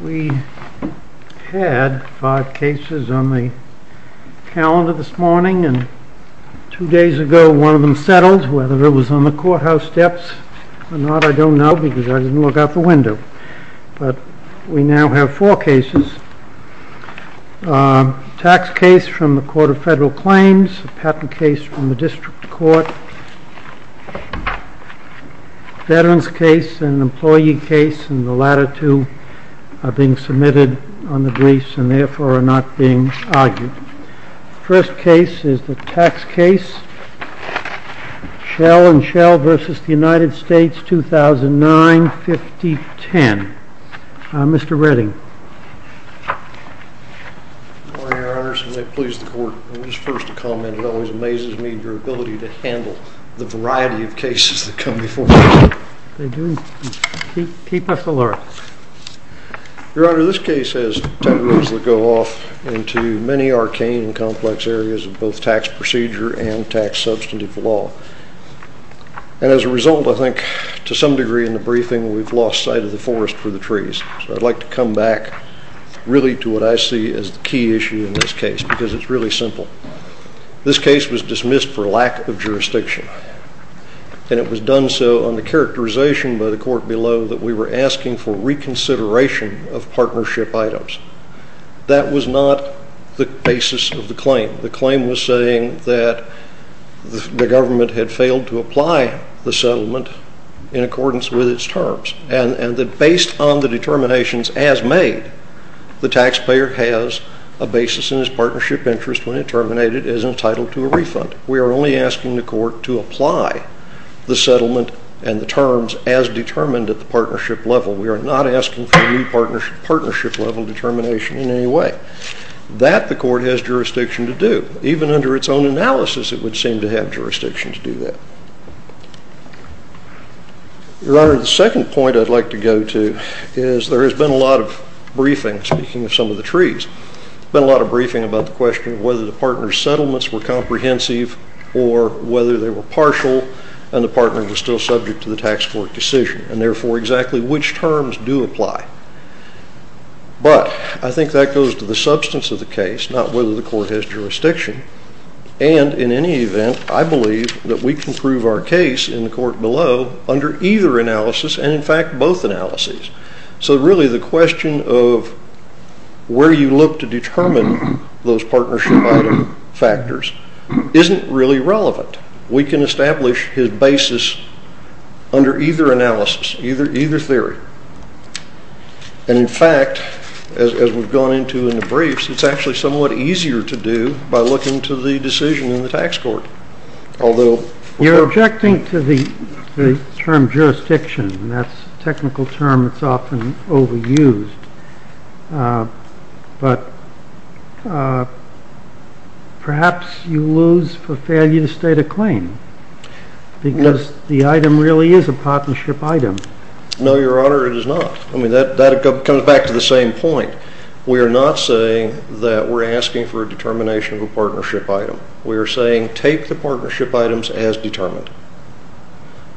We had five cases on the calendar this morning and two days ago one of them settled, whether it was on the courthouse steps or not I don't know because I didn't look out the window. But we now have four cases, a tax case from the Court of Federal Claims, a patent case from the District Court, a veterans case and an employee case and the latter two are being submitted on the briefs and therefore are not being argued. First case is the tax case Schell v. United States, 2009-2010. Mr. Redding. Good morning, Your Honors, and may it please the Court, it always amazes me your ability to handle the variety of cases that come before me. Keep us alert. Your Honor, this case has tendrils that go off into many arcane and complex areas of both tax procedure and tax substantive law and as a result I think to some degree in to come back really to what I see as the key issue in this case because it's really simple. This case was dismissed for lack of jurisdiction and it was done so on the characterization by the court below that we were asking for reconsideration of partnership items. That was not the basis of the claim. The claim was saying that the government had failed to apply the settlement in accordance with its terms and that based on the determinations as made, the taxpayer has a basis in his partnership interest when it terminated as entitled to a refund. We are only asking the court to apply the settlement and the terms as determined at the partnership level. We are not asking for new partnership level determination in any way. That the court has jurisdiction to do. Even under its own analysis it would seem to have jurisdiction to do that. Your Honor, the second point I'd like to go to is there has been a lot of briefing, speaking of some of the trees. There's been a lot of briefing about the question whether the partner's settlements were comprehensive or whether they were partial and the partner was still subject to the tax court decision and therefore exactly which terms do apply. But I think that goes to the substance of the case, not whether the court has jurisdiction and in any event, I believe that we can prove our case in the court below under either analysis and in fact both analyses. So really the question of where you look to determine those partnership item factors isn't really relevant. We can establish his basis under either analysis, either theory and in fact, as we've gone into the briefs, it's actually somewhat easier to do by looking to the decision in the tax court. Although... You're objecting to the term jurisdiction and that's a technical term that's often overused. But perhaps you lose for failure to state a claim because the item really is a partnership item. No, Your Honor, it is not. I mean, that comes back to the same point. We are not saying that we're asking for a determination of a partnership item. We are saying take the partnership items as determined.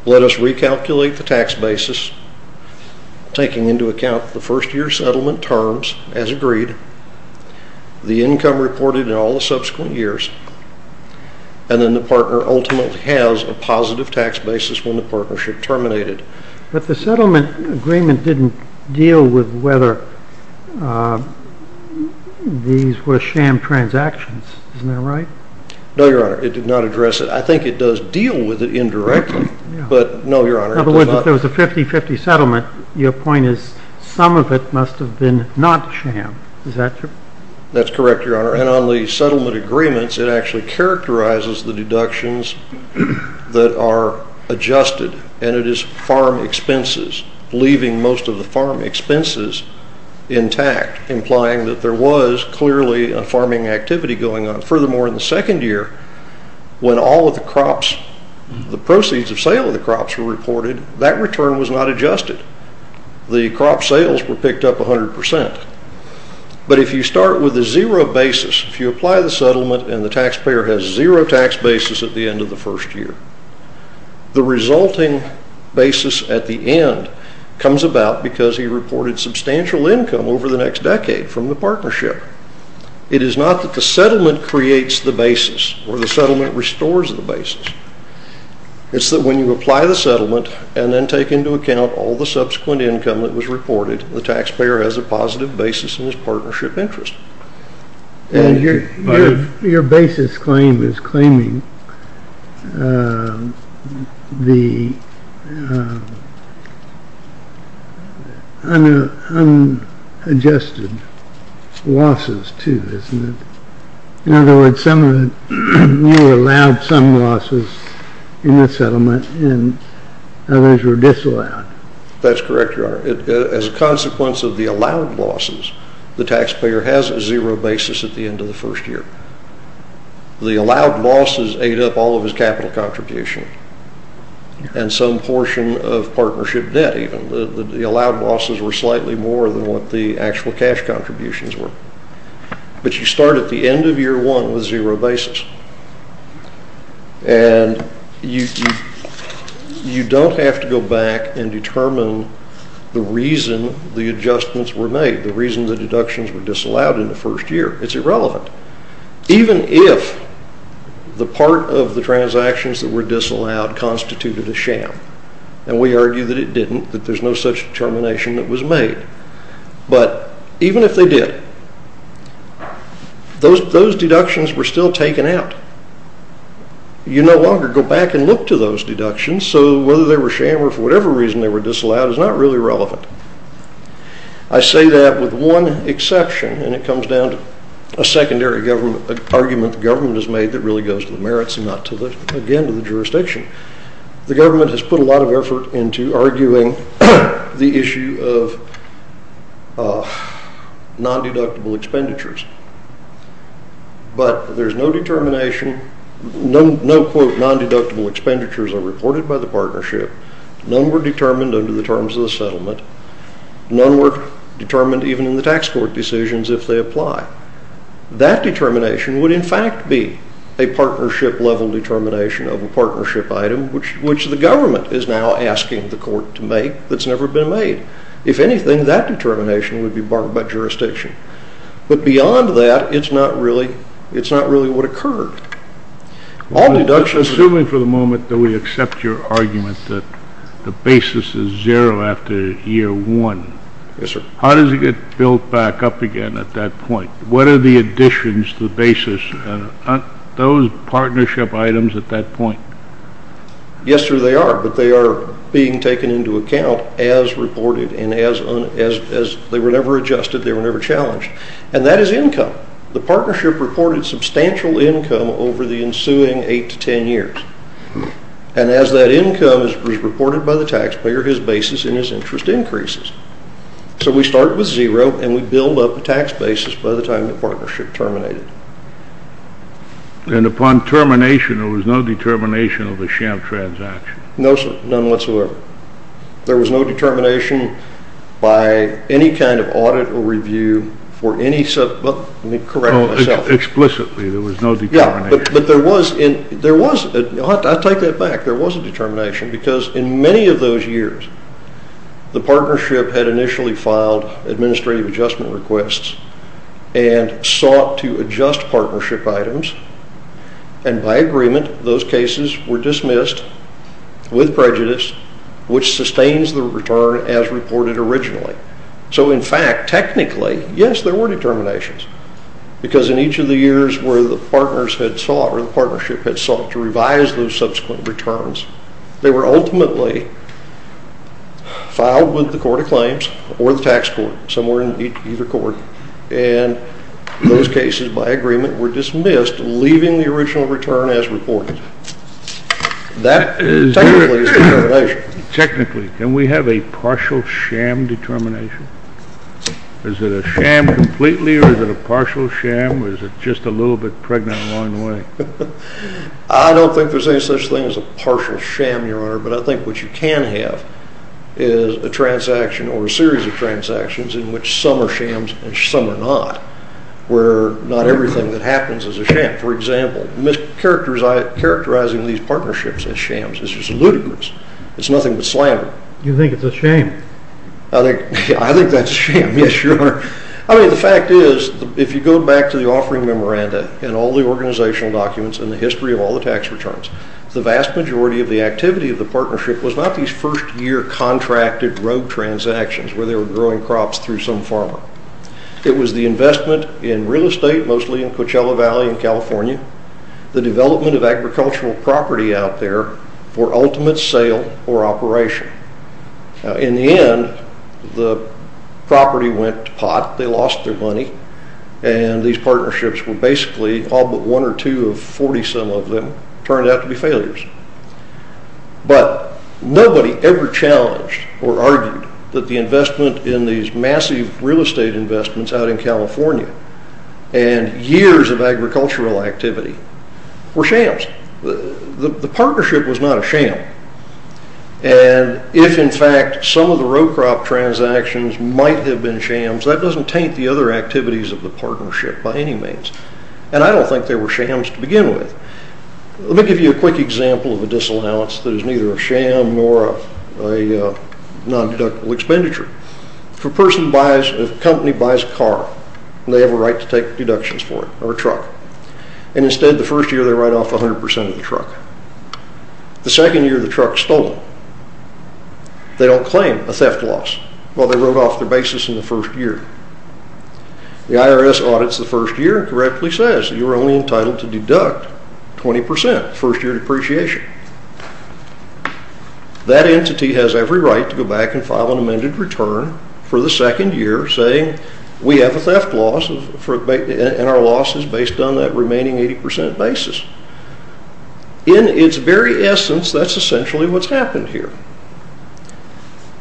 Let us recalculate the tax basis, taking into account the first year settlement terms as agreed, the income reported in all the subsequent years and then the partner ultimately has a positive tax basis when the partnership terminated. But the settlement agreement didn't deal with whether these were sham transactions. Isn't that right? No, Your Honor, it did not address it. I think it does deal with it indirectly. But no, Your Honor, it does not. In other words, if there was a 50-50 settlement, your point is some of it must have been not sham. Is that correct? That's correct, Your Honor. And on the settlement agreements, it actually characterizes the deductions that are adjusted and it is farm expenses, leaving most of the farm expenses intact, implying that there was clearly a farming activity going on. Furthermore, in the second year, when all of the crops, the proceeds of sale of the crops were reported, that return was not adjusted. The crop sales were picked up 100%. But if you start with a zero basis, if you apply the settlement and the taxpayer has a positive basis at the end, comes about because he reported substantial income over the next decade from the partnership. It is not that the settlement creates the basis or the settlement restores the basis. It's that when you apply the settlement and then take into account all the subsequent income that was reported, the taxpayer has a positive basis in his partnership interest. And your basis claim is claiming the unadjusted losses too, isn't it? In other words, some of it, you allowed some losses in the settlement and others were disallowed. As a consequence of the allowed losses, the taxpayer has a zero basis at the end of the first year. The allowed losses ate up all of his capital contribution and some portion of partnership debt even. The allowed losses were slightly more than what the actual cash contributions were. But you start at the end of year one with zero basis. And you don't have to go back and determine the reason the adjustments were made, the reason the deductions were disallowed in the first year. It's irrelevant. Even if the part of the transactions that were disallowed constituted a sham. And we argue that it didn't, that there's no such determination that was made. But even if they did, those deductions were still taken out. You no longer go back and look to those deductions. So whether they were sham or for whatever reason they were disallowed is not really relevant. I say that with one exception and it comes down to a secondary argument the government has made that really goes to the merits and not to the, again, to the jurisdiction. The government has put a lot of effort into arguing the issue of non-deductible expenditures. But there's no determination, no quote non-deductible expenditures are reported by the partnership. None were determined under the terms of the settlement. None were determined even in the tax court decisions if they apply. That determination would in fact be a partnership level determination of a partnership item which the government is now asking the court to make that's never been made. If anything, that determination would be barred by jurisdiction. But beyond that, it's not really what occurred. Assuming for the moment that we accept your argument that the basis is zero after year one. Yes, sir. How does it get built back up again at that point? What are the additions to the basis? Aren't those partnership items at that point? Yes, sir, they are. But they are being taken into account as reported and as they were never adjusted. They were never challenged. And that is income. The partnership reported substantial income over the ensuing eight to ten years. And as that income is reported by the taxpayer, his basis and his interest increases. So we start with zero and we build up a tax basis by the time the partnership terminated. And upon termination, there was no determination of a sham transaction? No, sir, none whatsoever. There was no determination by any kind of audit or review for any sub- Well, let me correct myself. Explicitly, there was no determination. Yeah, but there was. I'll take that back. There was a determination because in many of those years, the partnership had initially filed administrative adjustment requests and sought to adjust partnership items. And by agreement, those cases were dismissed with prejudice, which sustains the return as reported originally. So in fact, technically, yes, there were determinations. Because in each of the years where the partners had sought or the partnership had sought to revise those subsequent returns, they were ultimately filed with the court of claims or the tax court, somewhere in either court. And those cases, by agreement, were dismissed, leaving the original return as reported. That is technically a determination. Technically. Can we have a partial sham determination? Is it a sham completely or is it a partial sham or is it just a little bit pregnant along the way? I don't think there's any such thing as a partial sham, Your Honor, but I think what you can have is a transaction or a series of transactions in which some are shams and some are not, where not everything that happens is a sham. For example, characterizing these partnerships as shams is just ludicrous. It's nothing but slander. You think it's a sham? I think that's a sham, yes, Your Honor. I mean, the fact is, if you go back to the offering memoranda and all the organizational documents and the history of all the tax returns, the vast majority of the activity of the partnership was not these first-year contracted road transactions where they were growing crops through some farmer. It was the investment in real estate, mostly in Coachella Valley in California, the development of agricultural property out there for ultimate sale or operation. In the end, the property went to pot, they lost their money, and these partnerships were basically all but one or two of 40-some of them turned out to be failures. But nobody ever challenged or argued that the investment in these massive real estate investments out in California and years of agricultural activity were shams. The partnership was not a sham. And if, in fact, some of the row crop transactions might have been shams, that doesn't taint the other activities of the partnership by any means. And I don't think they were shams to begin with. Let me give you a quick example of a disallowance that is neither a sham nor a non-deductible expenditure. If a company buys a car, they have a right to take deductions for it, or a truck. And instead, the first year, they write off 100% of the truck. The second year, the truck is stolen. They don't claim a theft loss. Well, they wrote off their basis in the first year. The IRS audits the first year and correctly says you're only entitled to deduct 20% first-year depreciation. That entity has every right to go back and file an amended return for the second year saying we have a theft loss and our loss is based on that remaining 80% basis. In its very essence, that's essentially what's happened here.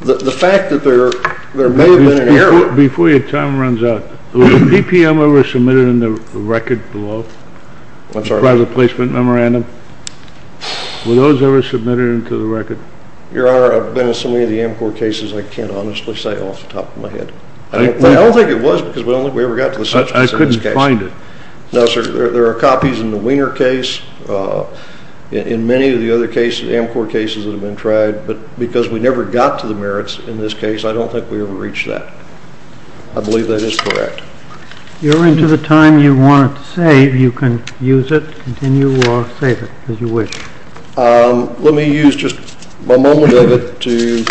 The fact that there may have been an error. Before your time runs out, was a BPM ever submitted in the record below? I'm sorry? The private placement memorandum. Were those ever submitted into the record? Your Honor, I've been in so many of the AMCOR cases, I can't honestly say off the top of my head. I don't think it was because we never got to the subject. I couldn't find it. No, sir. There are copies in the Wiener case, in many of the other AMCOR cases that have been tried, but because we never got to the merits in this case, I don't think we ever reached that. I believe that is correct. You're into the time you want to save. You can use it, continue, or save it as you wish. Let me use just a moment of it to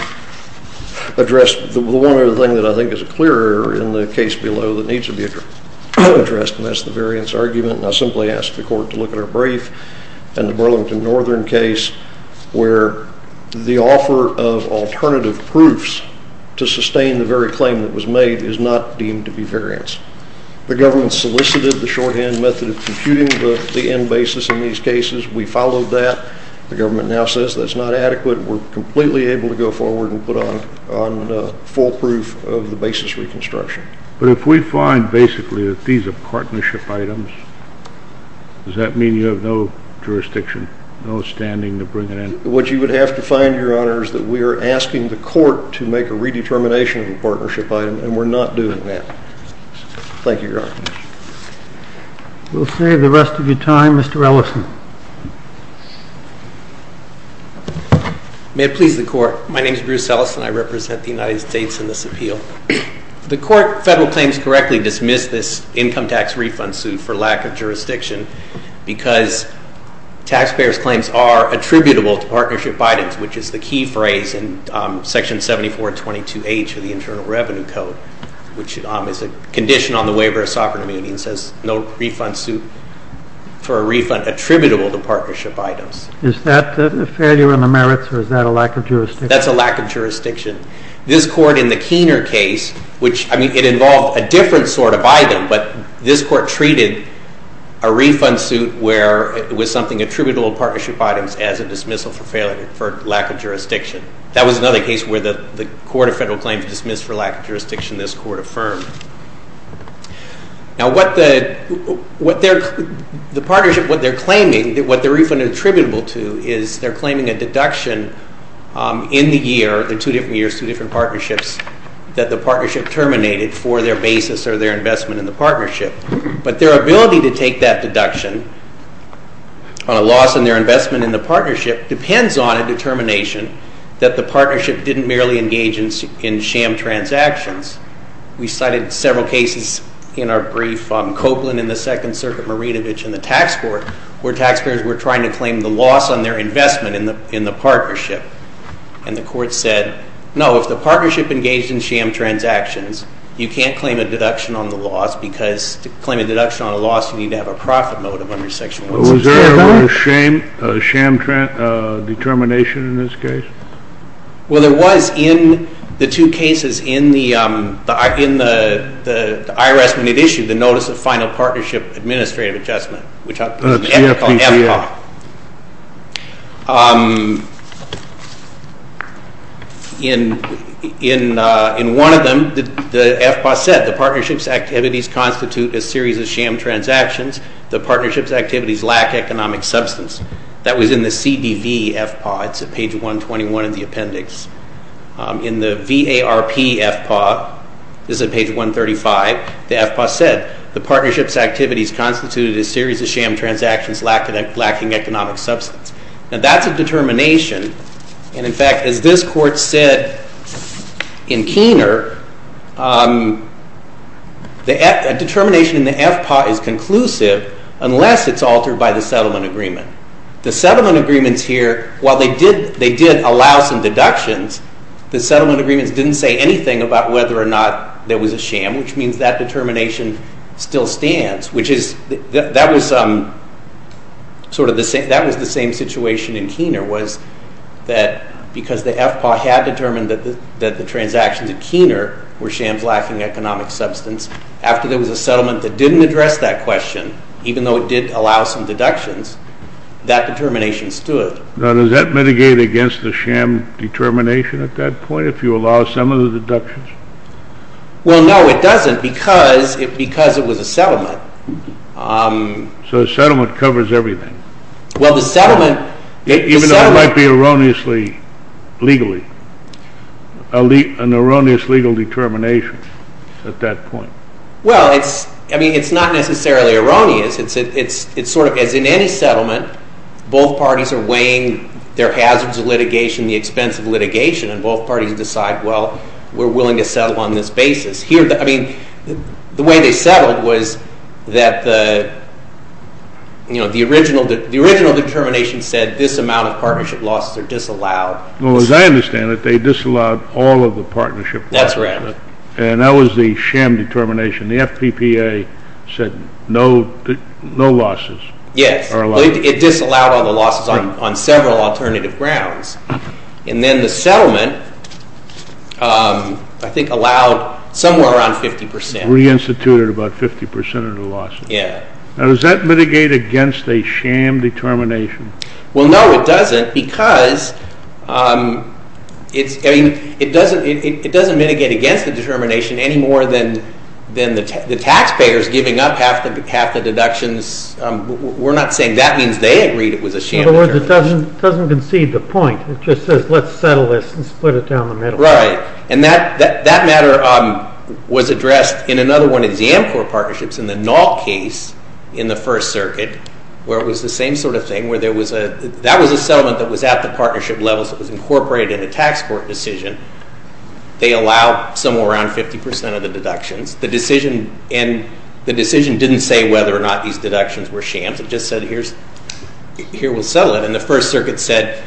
address the one other thing that I think is a clear error in the case below that needs to be addressed, and that's the variance argument. I simply ask the court to look at our brief and the Burlington Northern case where the offer of alternative proofs to sustain the very claim that was made is not deemed to be variance. The government solicited the shorthand method of computing the end basis in these cases. We followed that. The government now says that's not adequate. We're completely able to go forward and put on full proof of the basis reconstruction. But if we find basically that these are partnership items, does that mean you have no jurisdiction, no standing to bring it in? What you would have to find, Your Honor, is that we are asking the court to make a redetermination of the partnership item, and we're not doing that. Thank you, Your Honor. We'll save the rest of your time, Mr. Ellison. May it please the court. My name is Bruce Ellison. I represent the United States in this appeal. The court, federal claims correctly, dismissed this income tax refund suit for lack of jurisdiction because taxpayers' claims are attributable to partnership items, which is the key phrase in Section 7422H of the Internal Revenue Code, which is a condition on the waiver of sovereign immunity and says no refund suit for a refund attributable to partnership items. Is that a failure in the merits, or is that a lack of jurisdiction? That's a lack of jurisdiction. This court in the Keener case, which, I mean, it involved a different sort of item, but this court treated a refund suit where it was something attributable to partnership items as a dismissal for lack of jurisdiction. That was another case where the Court of Federal Claims dismissed for lack of jurisdiction, this court affirmed. Now, what the partnership, what they're claiming, what the refund attributable to is they're claiming a deduction in the year, the two different years, two different partnerships, that the partnership terminated for their basis or their investment in the partnership. But their ability to take that deduction on a loss in their investment in the partnership depends on a determination that the partnership didn't merely engage in sham transactions. We cited several cases in our brief, Copeland in the Second Circuit, Marinovich in the Tax Court, where taxpayers were trying to claim the loss on their investment in the partnership. And the court said, no, if the partnership engaged in sham transactions, you can't claim a deduction on the loss because to claim a deduction on a loss, you need to have a profit motive under Section 165. Was there a sham determination in this case? Well, there was in the two cases in the IRS when it issued the Notice of Final Partnership Administrative Adjustment, which I'll call FPPA. In one of them, the FPPA said the partnership's activities constitute a series of sham transactions. The partnership's activities lack economic substance. That was in the CDV FPPA. It's at page 121 in the appendix. In the VARP FPPA, this is at page 135, the FPPA said, the partnership's activities constitute a series of sham transactions lacking economic substance. Now, that's a determination. And, in fact, as this court said in Keener, a determination in the FPPA is conclusive unless it's altered by the settlement agreement. The settlement agreements here, while they did allow some deductions, the settlement agreements didn't say anything about whether or not there was a sham, which means that determination still stands. That was the same situation in Keener, was that because the FPPA had determined that the transactions at Keener were shams lacking economic substance, after there was a settlement that didn't address that question, even though it did allow some deductions, that determination stood. Now, does that mitigate against the sham determination at that point, if you allow some of the deductions? Well, no, it doesn't, because it was a settlement. So a settlement covers everything. Even though it might be erroneously, legally, an erroneous legal determination at that point. Well, I mean, it's not necessarily erroneous. It's sort of as in any settlement, both parties are weighing their hazards of litigation, the expense of litigation, and both parties decide, well, we're willing to settle on this basis. The way they settled was that the original determination said this amount of partnership losses are disallowed. Well, as I understand it, they disallowed all of the partnership losses. That's right. And that was the sham determination. The FPPA said no losses are allowed. Yes, it disallowed all the losses on several alternative grounds. And then the settlement, I think, allowed somewhere around 50%. Reinstituted about 50% of the losses. Yeah. Now, does that mitigate against a sham determination? Well, no, it doesn't, because it doesn't mitigate against the determination any more than the taxpayers giving up half the deductions. We're not saying that means they agreed it was a sham determination. In other words, it doesn't concede the point. It just says, let's settle this and split it down the middle. Right. And that matter was addressed in another one of the AMCOR partnerships in the NALT case in the First Circuit, where it was the same sort of thing, where that was a settlement that was at the partnership level, so it was incorporated in a tax court decision. They allow somewhere around 50% of the deductions. The decision didn't say whether or not these deductions were shams. It just said, here, we'll settle it. And the First Circuit said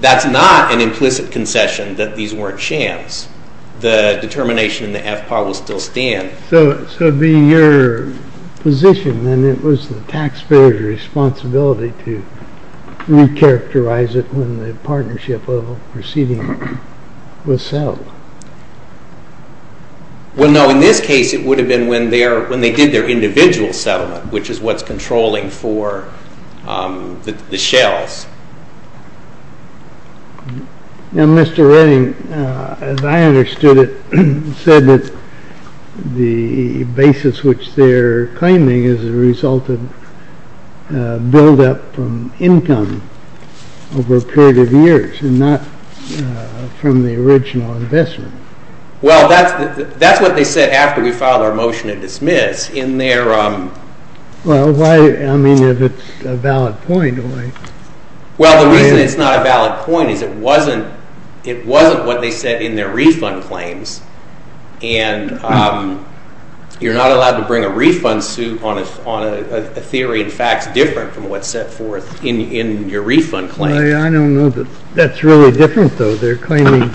that's not an implicit concession that these weren't shams. The determination in the FPAW will still stand. So being your position, then, it was the taxpayer's responsibility to recharacterize it when the partnership level proceeding was settled. Well, no, in this case, it would have been when they did their individual settlement, which is what's controlling for the shells. Now, Mr. Redding, as I understood it, said that the basis which they're claiming is the result of buildup from income over a period of years and not from the original investment. Well, that's what they said after we filed our motion to dismiss. Well, I mean, if it's a valid point. Well, the reason it's not a valid point is it wasn't what they said in their refund claims. And you're not allowed to bring a refund suit on a theory and facts different from what's set forth in your refund claim. I don't know that that's really different, though. They're claiming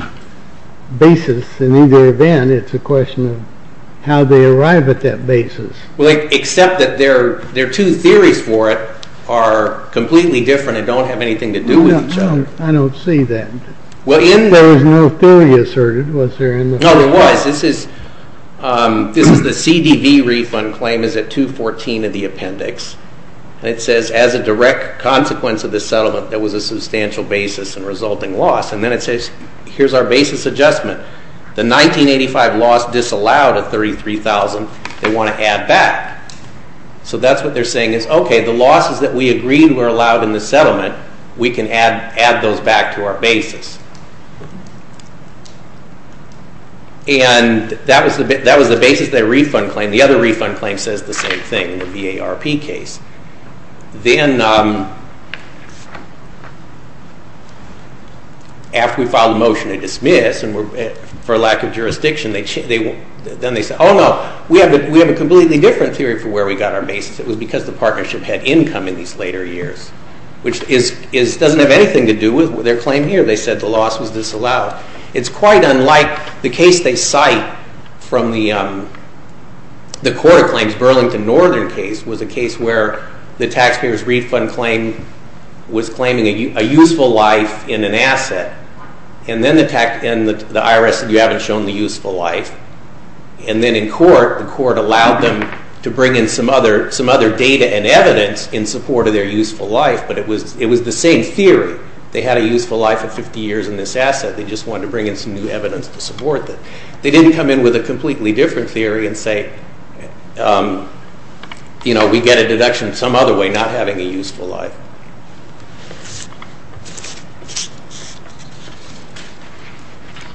basis in either event. It's a question of how they arrive at that basis. Well, except that their two theories for it are completely different and don't have anything to do with each other. I don't see that. There was no theory asserted, was there? No, there was. This is the CDV refund claim is at 214 of the appendix. And it says, as a direct consequence of this settlement, there was a substantial basis in resulting loss. And then it says, here's our basis adjustment. The 1985 loss disallowed at 33,000. They want to add back. So that's what they're saying is, okay, the losses that we agreed were allowed in the settlement, we can add those back to our basis. And that was the basis of their refund claim. And the other refund claim says the same thing in the VARP case. Then, after we filed a motion to dismiss for lack of jurisdiction, then they said, oh, no, we have a completely different theory for where we got our basis. It was because the partnership had income in these later years, which doesn't have anything to do with their claim here. They said the loss was disallowed. It's quite unlike the case they cite from the court of claims. Burlington Northern case was a case where the taxpayer's refund claim was claiming a useful life in an asset. And then the IRS said, you haven't shown the useful life. And then in court, the court allowed them to bring in some other data and evidence in support of their useful life. But it was the same theory. The IRS said they just wanted to bring in some new evidence to support that. They didn't come in with a completely different theory and say, you know, we get a deduction some other way, not having a useful life.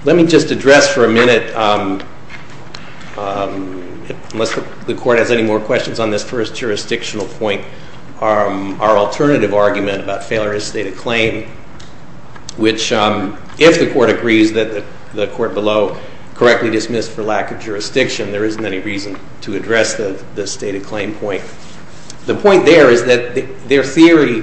Let me just address for a minute, unless the court has any more questions on this first jurisdictional point, our alternative argument about failure to state a claim, which if the court agrees that the court below correctly dismissed for lack of jurisdiction, there isn't any reason to address the stated claim point. The point there is that their theory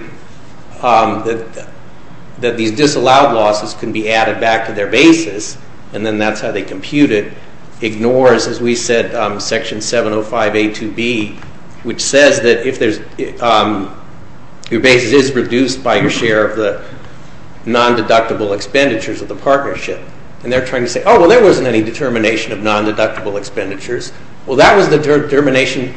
that these disallowed losses can be added back to their basis, and then that's how they compute it, ignores, as we said, Section 705A2B, which says that if your basis is reduced by your share of the non-deductible expenditures of the partnership. And they're trying to say, oh, well, there wasn't any determination of non-deductible expenditures. Well, that was the determination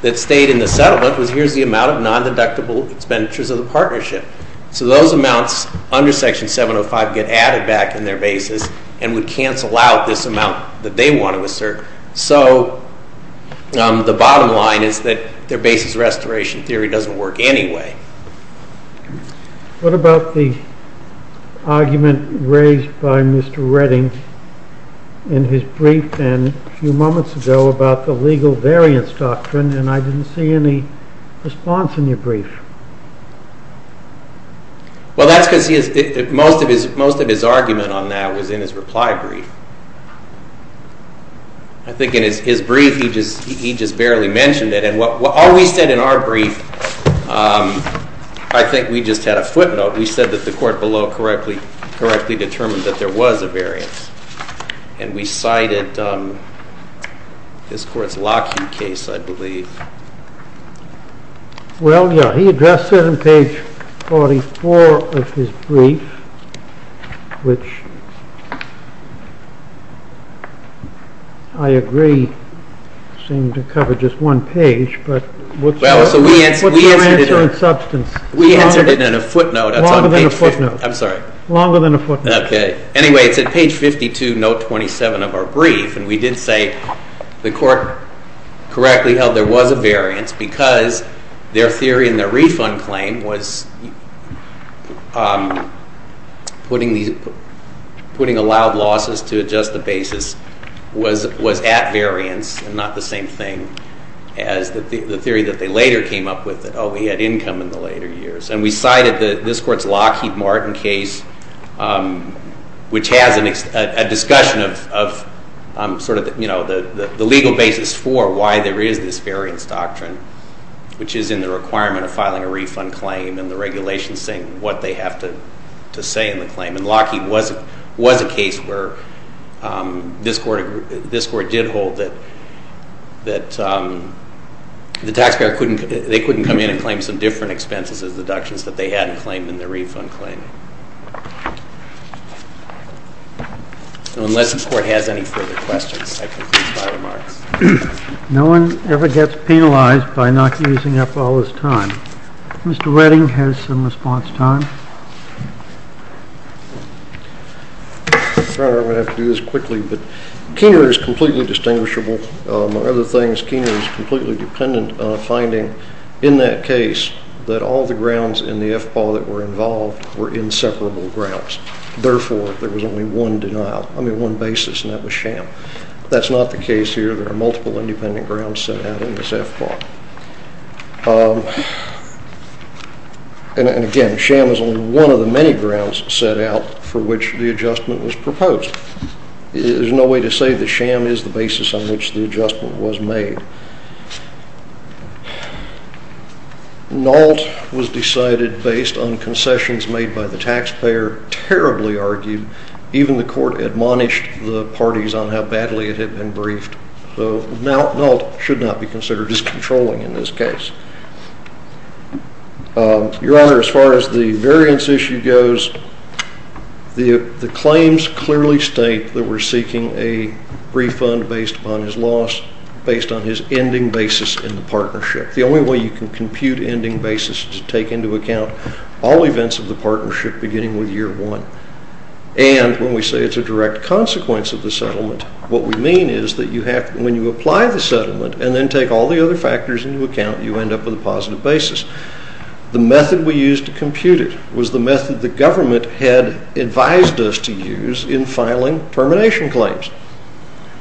that stayed in the settlement was here's the amount of non-deductible expenditures of the partnership. So those amounts under Section 705 get added back in their basis and would cancel out this amount that they want to assert. So the bottom line is that their basis restoration theory doesn't work anyway. What about the argument raised by Mr. Redding in his brief a few moments ago about the legal variance doctrine, and I didn't see any response in your brief. Well, that's because most of his argument on that was in his reply brief. I think in his brief, he just barely mentioned it. And all we said in our brief, I think we just had a footnote. We said that the court below correctly determined that there was a variance, and we cited this court's Lockheed case, I believe. Well, yeah, he addressed it in page 44 of his brief, which I agree seemed to cover just one page. But what's your answer in substance? We answered it in a footnote. Longer than a footnote. I'm sorry. Longer than a footnote. Okay. Anyway, it's at page 52, note 27 of our brief. And we did say the court correctly held there was a variance because their theory in their refund claim was putting allowed losses to adjust the basis was at variance and not the same thing as the theory that they later came up with that, oh, we had income in the later years. And we cited this court's Lockheed Martin case, which has a discussion of sort of the legal basis for why there is this variance doctrine, which is in the requirement of filing a refund claim and the regulations saying what they have to say in the claim. And Lockheed was a case where this court did hold that the taxpayer couldn't come in and claim some different expenses as deductions that they hadn't claimed in their refund claim. So unless the court has any further questions, I conclude my remarks. No one ever gets penalized by not using up all this time. Mr. Redding has some response time. I'm going to have to do this quickly, but Keener is completely distinguishable. Among other things, Keener is completely dependent on finding in that case that all the grounds in the FPAW that were involved were inseparable grounds. Therefore, there was only one denial, I mean, one basis, and that was sham. That's not the case here. There are multiple independent grounds set out in this FPAW. And again, sham is only one of the many grounds set out for which the adjustment was proposed. There's no way to say that sham is the basis on which the adjustment was made. NALT was decided based on concessions made by the taxpayer, terribly argued. Even the court admonished the parties on how badly it had been briefed. So NALT should not be considered as controlling in this case. Your Honor, as far as the variance issue goes, the claims clearly state that we're seeking a refund based upon his loss, based on his ending basis in the partnership. The only way you can compute ending basis is to take into account all events of the partnership beginning with year one. And when we say it's a direct consequence of the settlement, what we mean is that when you apply the settlement and then take all the other factors into account, you end up with a positive basis. The method we used to compute it was the method the government had advised us to use in filing termination claims.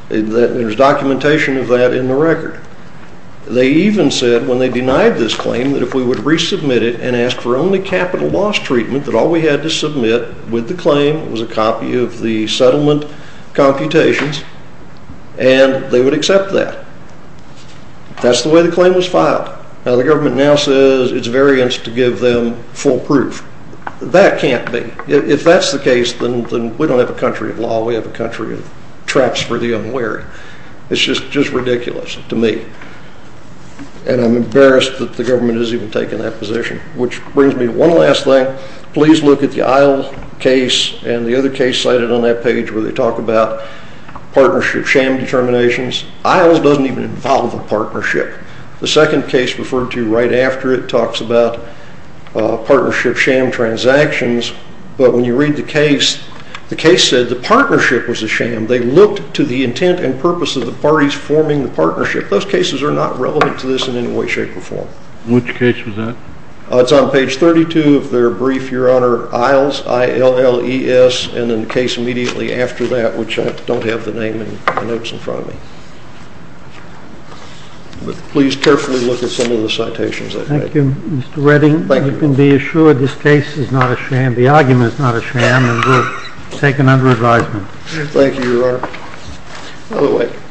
There's documentation of that in the record. They even said when they denied this claim that if we would resubmit it and ask for only capital loss treatment that all we had to submit with the claim was a copy of the settlement computations and they would accept that. That's the way the claim was filed. Now the government now says it's variance to give them full proof. That can't be. If that's the case, then we don't have a country of law. We have a country of traps for the unwary. It's just ridiculous to me. And I'm embarrassed that the government has even taken that position. Which brings me to one last thing. Please look at the Isle case and the other case cited on that page where they talk about partnership sham determinations. Isle doesn't even involve a partnership. The second case referred to right after it talks about partnership sham transactions. But when you read the case, the case said the partnership was a sham. They looked to the intent and purpose of the parties forming the partnership. Those cases are not relevant to this in any way, shape, or form. Which case was that? It's on page 32 of their brief, Your Honor, Isles, I-L-L-E-S, and then the case immediately after that, which I don't have the name and the notes in front of me. But please carefully look at some of the citations they've made. Thank you, Mr. Redding. Thank you. You can be assured this case is not a sham. The argument is not a sham and will be taken under advisement. Thank you, Your Honor. Other witnesses?